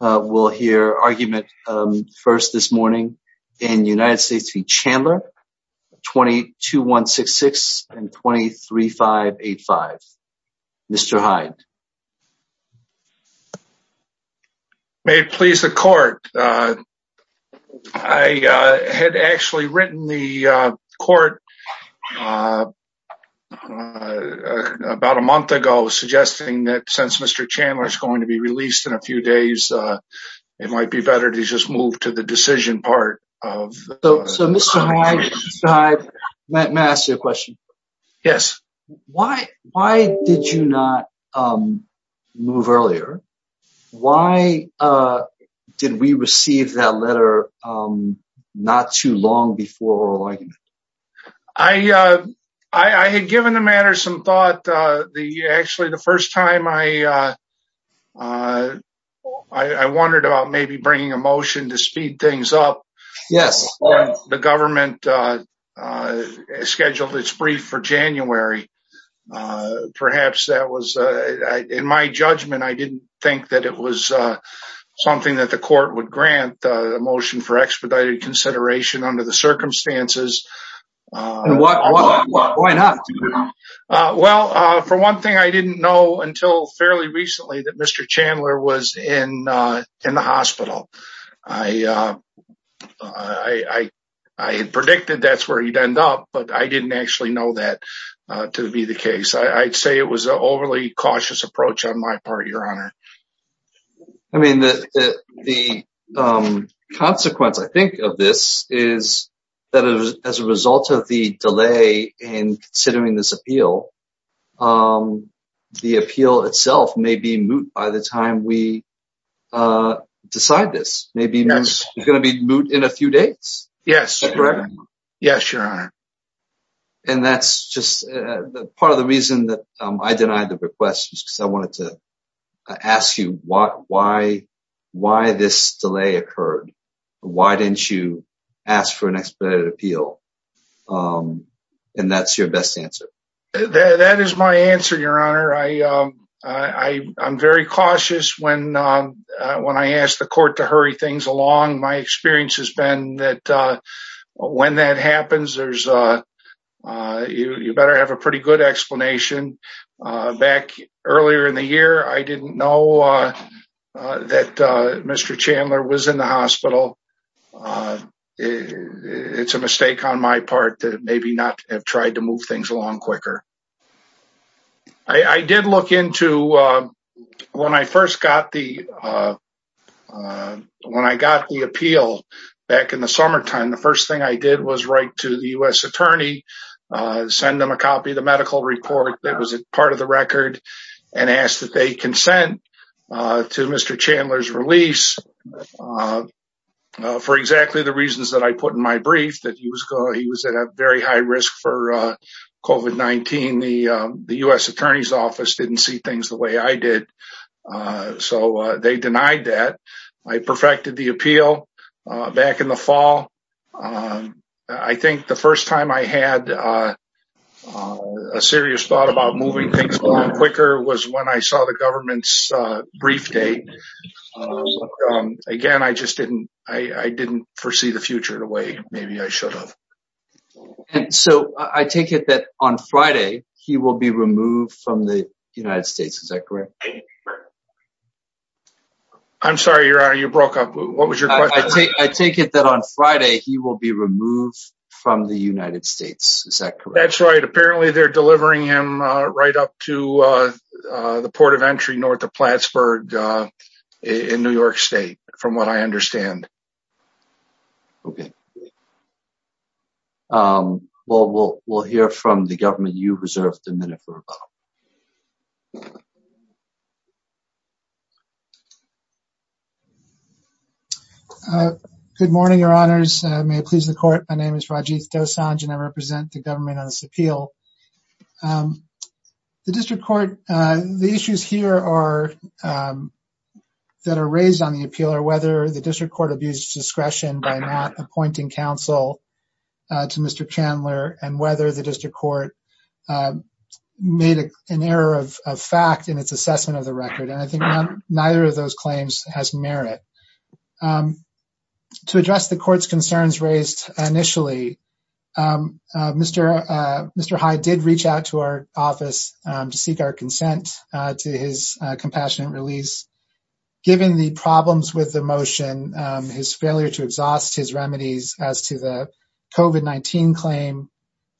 will hear argument first this morning in United States v. Chandler, 22-166 and 23-585. Mr. Hyde. May it please the court, I had actually written the court about a month ago suggesting that since Mr. Chandler is going to be released in a few days it might be better to just move to the decision part. So Mr. Hyde, may I ask you a question? Yes. Why why did you not move earlier? Why did we receive that letter not too long before oral argument? I had given the matter some thought the actually the first time I I wondered about maybe bringing a motion to speed things up. Yes. The government scheduled its brief for January. Perhaps that was in my judgment I didn't think that it was something that the court would grant a motion for expedited consideration under the Well, for one thing I didn't know until fairly recently that Mr. Chandler was in in the hospital. I predicted that's where he'd end up but I didn't actually know that to be the case. I'd say it was an overly cautious approach on my part your honor. I mean the consequence I think of this is that as a result of the appeal, the appeal itself may be moot by the time we decide this. Maybe it's going to be moot in a few days. Yes. Yes your honor. And that's just part of the reason that I denied the request because I wanted to ask you why why why this delay occurred? Why didn't you ask for an expedited appeal? And that's your best answer. That is my answer your honor. I I'm very cautious when when I ask the court to hurry things along. My experience has been that when that happens there's a you better have a pretty good explanation. Back earlier in the hospital it's a mistake on my part that maybe not have tried to move things along quicker. I did look into when I first got the when I got the appeal back in the summertime the first thing I did was write to the U.S. attorney send them a copy of the medical report that was a part of the record and asked that they consent to Mr. Chandler's release for exactly the reasons that I put in my brief that he was going he was at a very high risk for COVID-19. The the U.S. attorney's office didn't see things the way I did so they denied that. I perfected the appeal back in the fall. I think the first time I had a serious thought about moving things along quicker was when I saw the government's brief date. Again I just didn't I didn't foresee the future the way maybe I should have. And so I take it that on Friday he will be removed from the United States is that correct? I'm sorry your honor you broke up what was your question? I take it that on Friday he will be removed from the United States is that correct? That's right apparently they're delivering him right up to the port of entry north of Plattsburgh in New York State from what I understand. Okay well we'll we'll hear from the government you reserved a minute for. Good morning your honors may it please the court my name is Rajiv Dosanjh and I represent the government on this appeal. The district court the issues here are that are raised on the appeal are whether the district court abused discretion by not appointing counsel to Mr. Chandler and whether the district court made an error of fact in its assessment of the record and I think neither of those claims has merit. To address the court's concerns raised initially Mr. Hyde did reach out to our office to seek our consent to his compassionate release given the problems with the motion his failure to exhaust his remedies as to the COVID-19 claim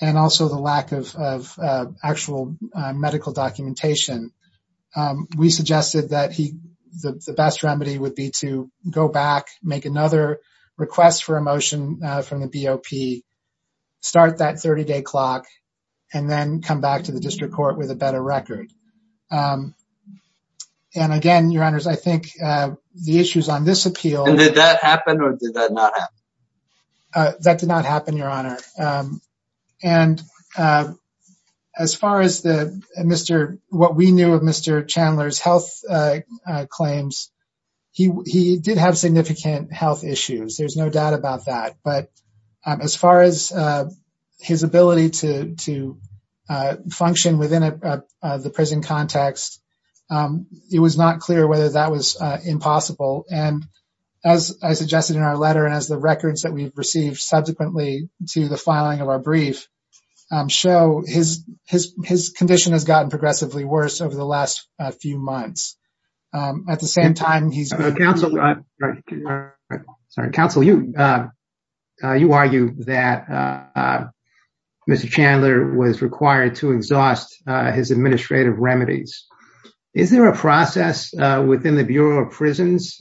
and also the lack of actual medical documentation. We suggested that he the best remedy would be to go back make another request for a motion from the BOP start that 30-day clock and then come back to the district court with a better record and again your honors I think the issues on this appeal did that happen or did that not happen? That did not happen your honor and as far as the Mr. what we knew of Mr. Chandler's health claims he did have significant health issues there's no doubt about that but as far as his ability to function within the prison context it was not clear whether that was impossible and as I suggested in our letter and as the records that we've received subsequently to the filing of our brief show his condition has gotten progressively worse over the last few months. At the same time he's a counselor sorry counsel you you argue that Mr. Chandler was required to exhaust his administrative remedies. Is there a process within the Bureau of Prisons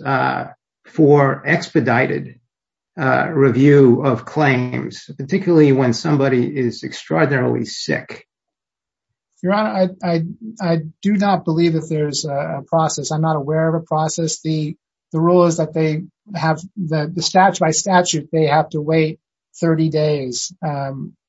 for claims particularly when somebody is extraordinarily sick? Your honor I do not believe that there's a process I'm not aware of a process the the rule is that they have the statute by statute they have to wait 30 days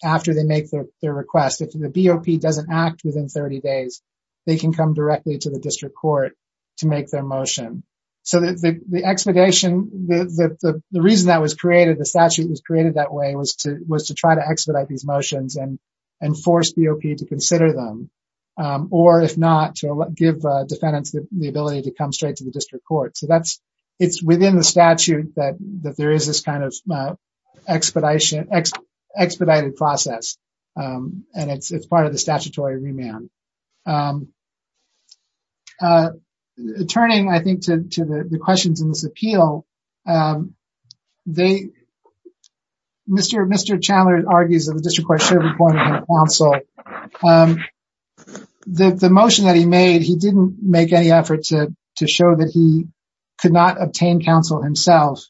after they make their request if the BOP doesn't act within 30 days they can come directly to the district court to make their motion so that the expedition the the reason that was created the statute was created that way was to was to try to expedite these motions and and force BOP to consider them or if not to give defendants the ability to come straight to the district court so that's it's within the statute that that there is this kind of expedited process and it's part of the statutory remand. Turning I think to the questions in this appeal they Mr. Chandler argues that the district court should have appointed him counsel. The motion that he made he didn't make any effort to to show that he could not obtain counsel himself.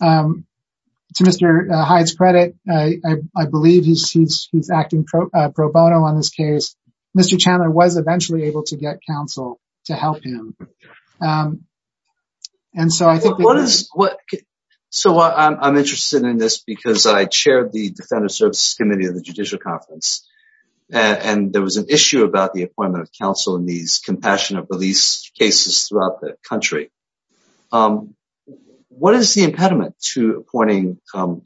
To Mr. Hyde's credit I believe he's acting pro bono on this case Mr. Chandler was and so I think what is what so I'm interested in this because I chaired the Defender Services Committee of the Judicial Conference and there was an issue about the appointment of counsel in these compassionate release cases throughout the country. What is the impediment to appointing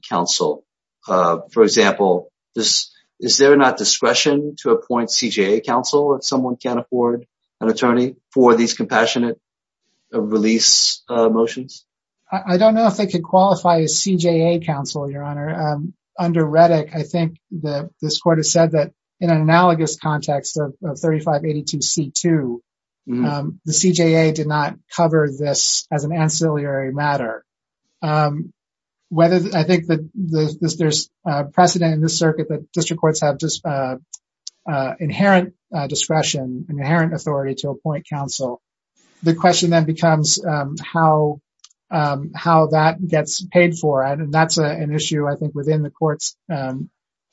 counsel for example this is there not discretion to appoint CJA counsel if someone can't afford an attorney for these compassionate release motions? I don't know if they could qualify a CJA counsel your honor. Under Reddick I think that this court has said that in an analogous context of 3582 C2 the CJA did not cover this as an ancillary matter. Whether I think that there's precedent in this that there's precedent in this that there's precedent in this that there's precedent in this that there is inherent authority to appoint counsel. The question then becomes how how that gets paid for and that's an issue I think within the court's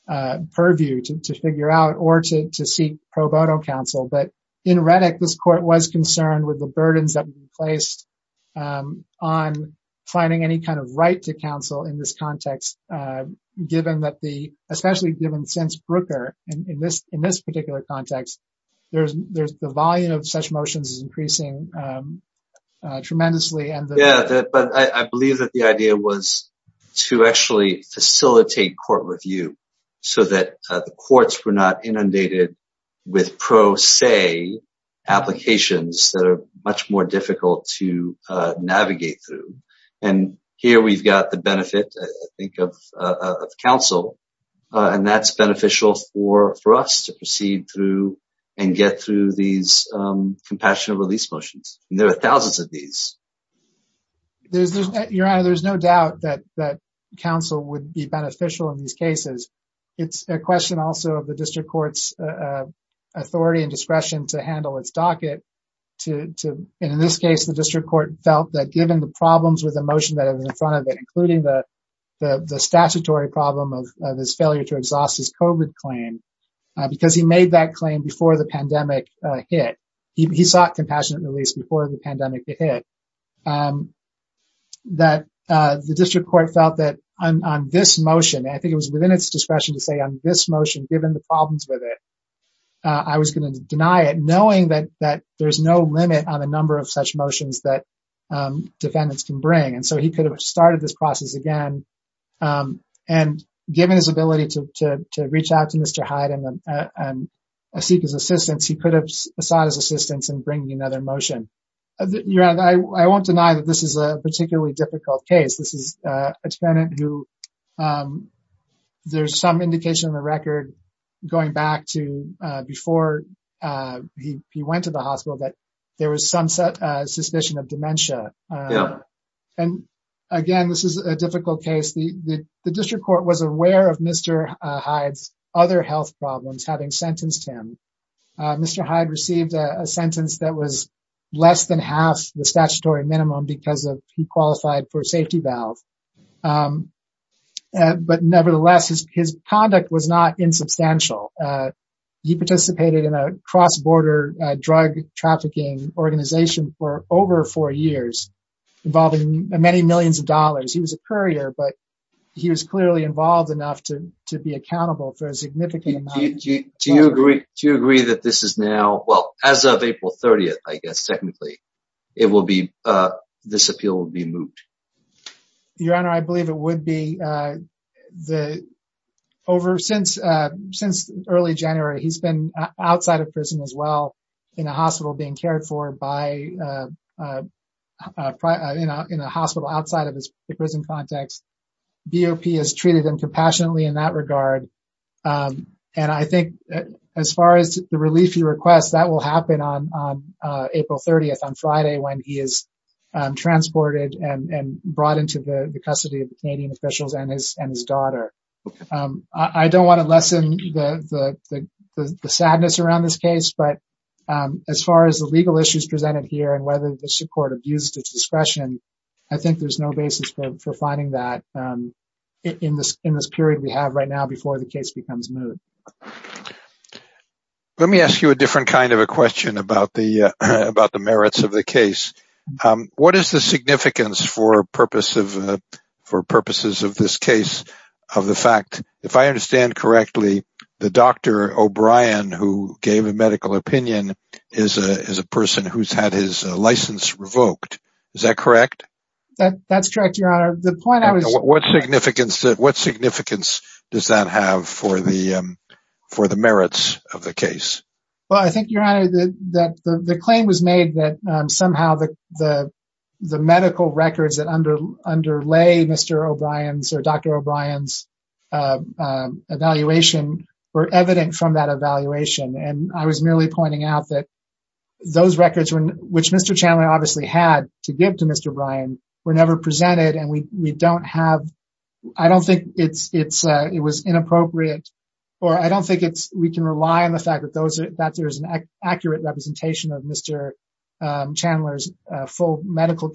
purview to figure out or to seek pro bono counsel but in Reddick this court was concerned with the burdens that were placed on finding any kind of right to counsel in this context given that the especially given since Brooker and in this in this particular context there's there's the volume of such motions is increasing tremendously. Yeah but I believe that the idea was to actually facilitate court review so that the courts were not inundated with pro se applications that are much more difficult to navigate through and here we've got the benefit I think of counsel and that's beneficial for for us to proceed through and get through these compassionate release motions. There are thousands of these. Your honor there's no doubt that that counsel would be beneficial in these cases. It's a question also of the district courts authority and discretion to handle its docket to in this case the problems with the motion that is in front of it including the statutory problem of his failure to exhaust his COVID claim because he made that claim before the pandemic hit. He sought compassionate release before the pandemic hit that the district court felt that on this motion I think it was within its discretion to say on this motion given the problems with it I was going to deny it knowing that that there's no limit on a number of such motions that defendants can bring and so he could have started this process again and given his ability to reach out to Mr. Hyde and seek his assistance he could have sought his assistance in bringing another motion. Your honor I won't deny that this is a particularly difficult case. This is a defendant who there's some indication in the record going back to before he went to the hospital that there was some suspicion of dementia and again this is a difficult case. The district court was aware of Mr. Hyde's other health problems having sentenced him. Mr. Hyde received a sentence that was less than half the statutory minimum because of he qualified for safety valve but nevertheless his conduct was not insubstantial. He participated in a cross-border drug trafficking organization for over four years involving many millions of dollars. He was a courier but he was clearly involved enough to to be accountable for a significant amount. Do you agree that this is now well as of April 30th I guess technically it will be this appeal will be moved? Your honor I believe it would be the over since since early January he's been outside of prison as well in a hospital being cared for by you know in a hospital outside of his prison context. BOP has treated him compassionately in that regard and I think as far as the relief he requests that will happen on April 30th on Friday when he is transported and brought into the custody of the Canadian officials and his and his daughter. I don't want to the sadness around this case but as far as the legal issues presented here and whether the court abused its discretion I think there's no basis for finding that in this in this period we have right now before the case becomes moved. Let me ask you a different kind of a question about the about the merits of the case. What is the significance for purpose of for purposes of this case of the fact if I understand correctly the Dr. O'Brien who gave a medical opinion is a person who's had his license revoked is that correct? That's correct your honor. What significance that what significance does that have for the for the merits of the case? Well I think your honor that the claim was made that somehow the the medical records that under underlay Mr. O'Brien's or Dr. O'Brien's evaluation were evident from that evaluation and I was merely pointing out that those records were which Mr. Chandler obviously had to give to Mr. O'Brien were never presented and we we don't have I don't think it's it's it was inappropriate or I don't think it's we can rely on the fact that those are that there's an accurate representation of Mr. Chandler's full medical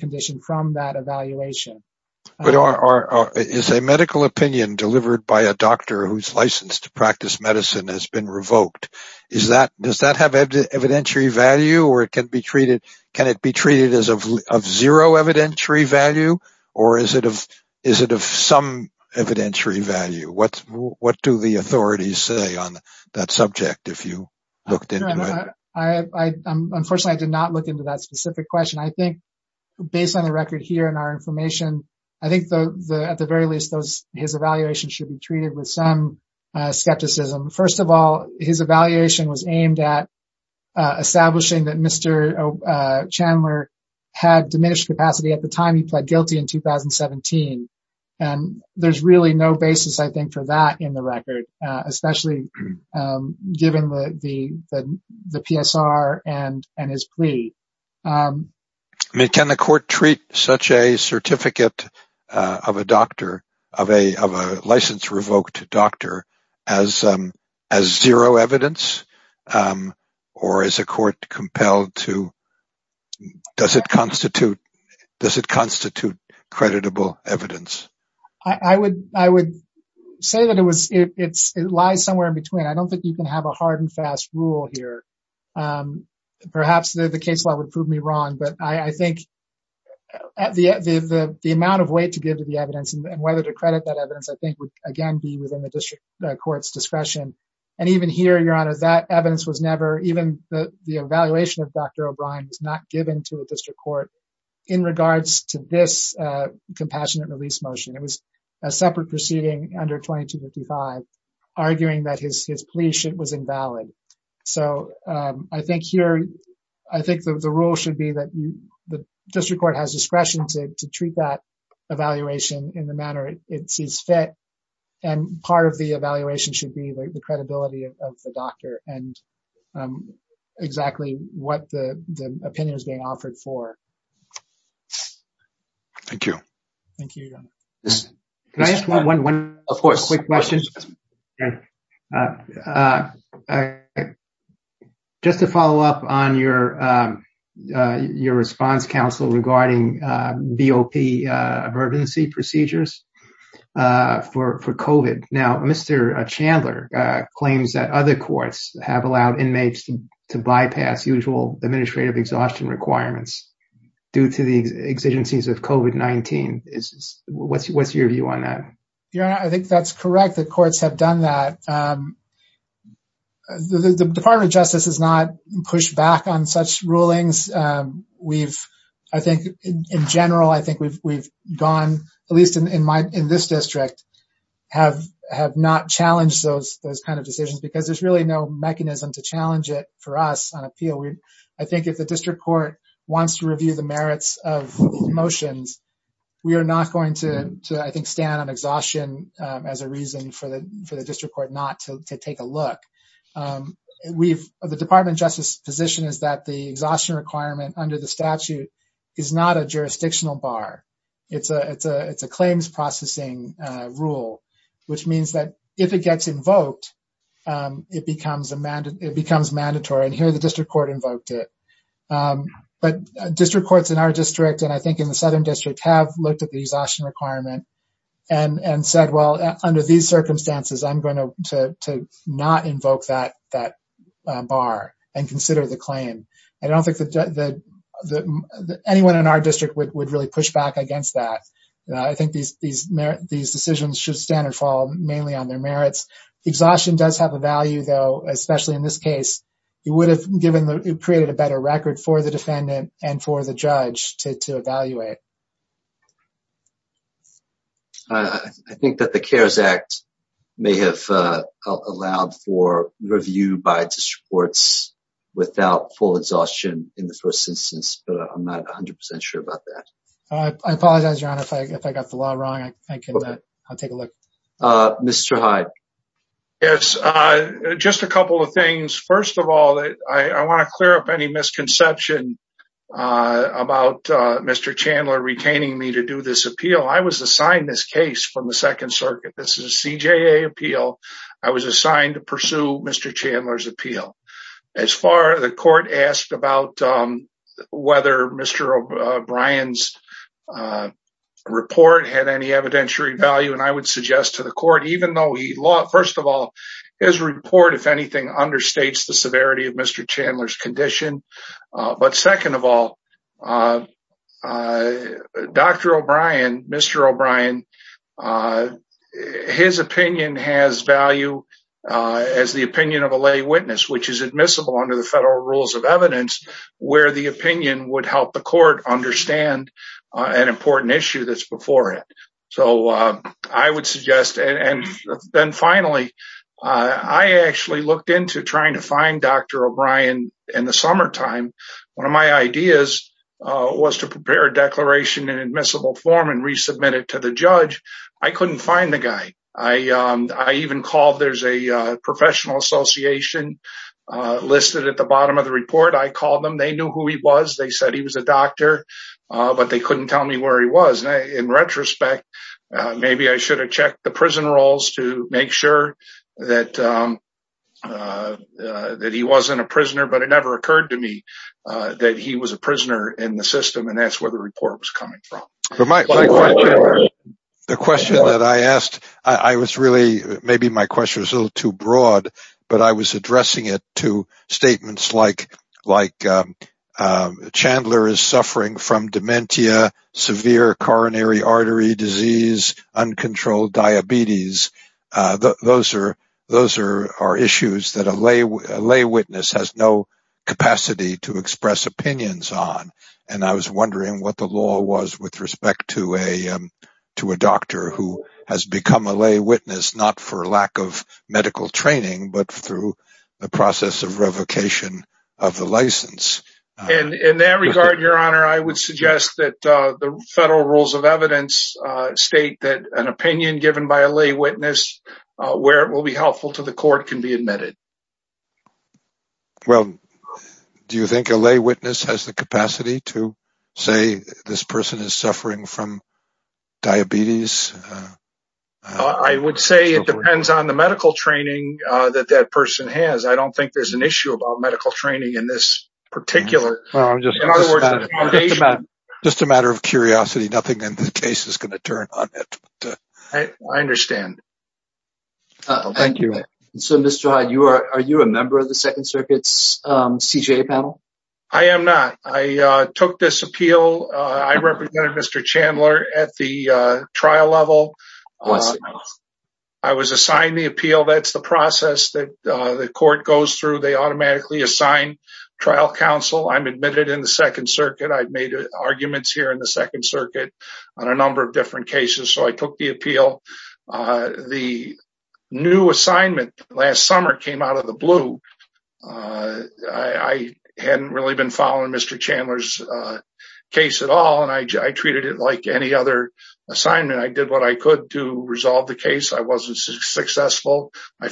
opinion delivered by a doctor who's licensed to practice medicine has been revoked is that does that have evidentiary value or it can be treated can it be treated as of zero evidentiary value or is it of is it of some evidentiary value what what do the authorities say on that subject if you looked into it? Unfortunately I did not look into that specific question I think based on the record here and our information I think the at the very least those his evaluation should be treated with some skepticism first of all his evaluation was aimed at establishing that Mr. Chandler had diminished capacity at the time he pled guilty in 2017 and there's really no basis I think for that in the record especially given the the the PSR and and his plea. I mean can the certificate of a doctor of a of a license revoked doctor as as zero evidence or as a court compelled to does it constitute does it constitute creditable evidence? I would I would say that it was it's it lies somewhere in between I don't think you can have a hard and fast rule here perhaps the the amount of weight to give to the evidence and whether to credit that evidence I think would again be within the district courts discretion and even here your honor that evidence was never even the the evaluation of Dr. O'Brien was not given to a district court in regards to this compassionate release motion it was a separate proceeding under 2255 arguing that his his plea was invalid so I think here I think the rule should be that the district court has discretion to treat that evaluation in the manner it sees fit and part of the evaluation should be the credibility of the doctor and exactly what the opinion is being offered for. Thank you. Thank you. Can I ask one quick question? Just to follow up on your your response counsel regarding BOP emergency procedures for COVID. Now Mr. Chandler claims that other courts have allowed inmates to bypass usual administrative exhaustion requirements due to the exigencies of COVID-19. What's what's your view on that? Your honor I think that's correct the courts have done that. The Department of Justice has not pushed back on such rulings. We've I think in general I think we've we've gone at least in my in this district have have not challenged those those kind of decisions because there's really no mechanism to challenge it for us on appeal. I think if the district court wants to review the merits of motions we are not going to I think stand on exhaustion as a reason for the for the district court not to take a look. We've the Department of Justice position is that the exhaustion requirement under the statute is not a jurisdictional bar. It's a it's a it's a claims processing rule which means that if it gets invoked it becomes a mandate it becomes mandatory and here the district court invoked it. But district courts in our district and I think in the Southern District have looked at the exhaustion requirement and and said well under these circumstances I'm going to not invoke that that bar and consider the claim. I don't think that anyone in our district would really push back against that. I think these these decisions should stand and fall mainly on their merits. Exhaustion does have a value though especially in this case it would have given the created a better record for the defendant and for the District Courts without full exhaustion in the first instance but I'm not 100% sure about that. I apologize your honor if I got the law wrong I'll take a look. Mr. Hyde. Yes just a couple of things. First of all I want to clear up any misconception about Mr. Chandler retaining me to do this appeal. I was assigned this case from the Second Circuit. This is a CJA appeal. I was assigned to pursue Mr. Chandler's appeal. As far as the court asked about whether Mr. O'Brien's report had any evidentiary value and I would suggest to the court even though he law first of all his report if anything understates the severity of Mr. Chandler's condition but second of all Dr. O'Brien, Mr. O'Brien, his opinion has value as the opinion of a lay witness which is admissible under the federal rules of evidence where the opinion would help the court understand an important issue that's before it. So I would suggest and then finally I actually looked into trying to find Dr. O'Brien in the summertime. One of my ideas was to prepare a declaration in admissible form and resubmit it to the judge. I couldn't find the guy. I even called there's a professional association listed at the bottom of the report. I called them they knew who he was they said he was a doctor but they couldn't tell me where he was. In retrospect maybe I should have checked the prison rolls to make sure that that he wasn't a prisoner but it never occurred to me that he was a prisoner in the system and that's where the report was coming from. The question that I asked I was really maybe my question was a little too broad but I was addressing it to statements like like Chandler is those are those are our issues that a lay witness has no capacity to express opinions on and I was wondering what the law was with respect to a to a doctor who has become a lay witness not for lack of medical training but through the process of revocation of the license. In that regard your honor I would suggest that the federal rules of evidence state that an opinion given by a lay witness where it will be helpful to the court can be admitted. Well do you think a lay witness has the capacity to say this person is suffering from diabetes? I would say it depends on the medical training that that person has I don't think there's an issue about medical training in this particular matter. Just a matter of curiosity nothing in the case is going to turn on it. I understand. Thank you. So Mr. Hyde you are are you a member of the Second Circuit's CJA panel? I am NOT. I took this appeal I represented Mr. Chandler at the They automatically assign trial counsel. I'm admitted in the Second Circuit. I've made arguments here in the Second Circuit on a number of different cases so I took the appeal. The new assignment last summer came out of the blue. I hadn't really been following Mr. Chandler's case at all and I treated it like any other assignment. I did what I could to resolve the case. I wasn't successful. I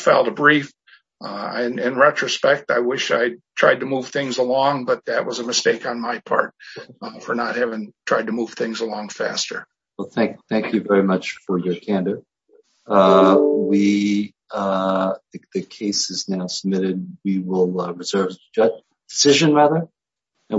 wish I tried to move things along but that was a mistake on my part for not having tried to move things along faster. Well thank you very much for your candor. The case is now submitted. We will reserve the decision rather and we'll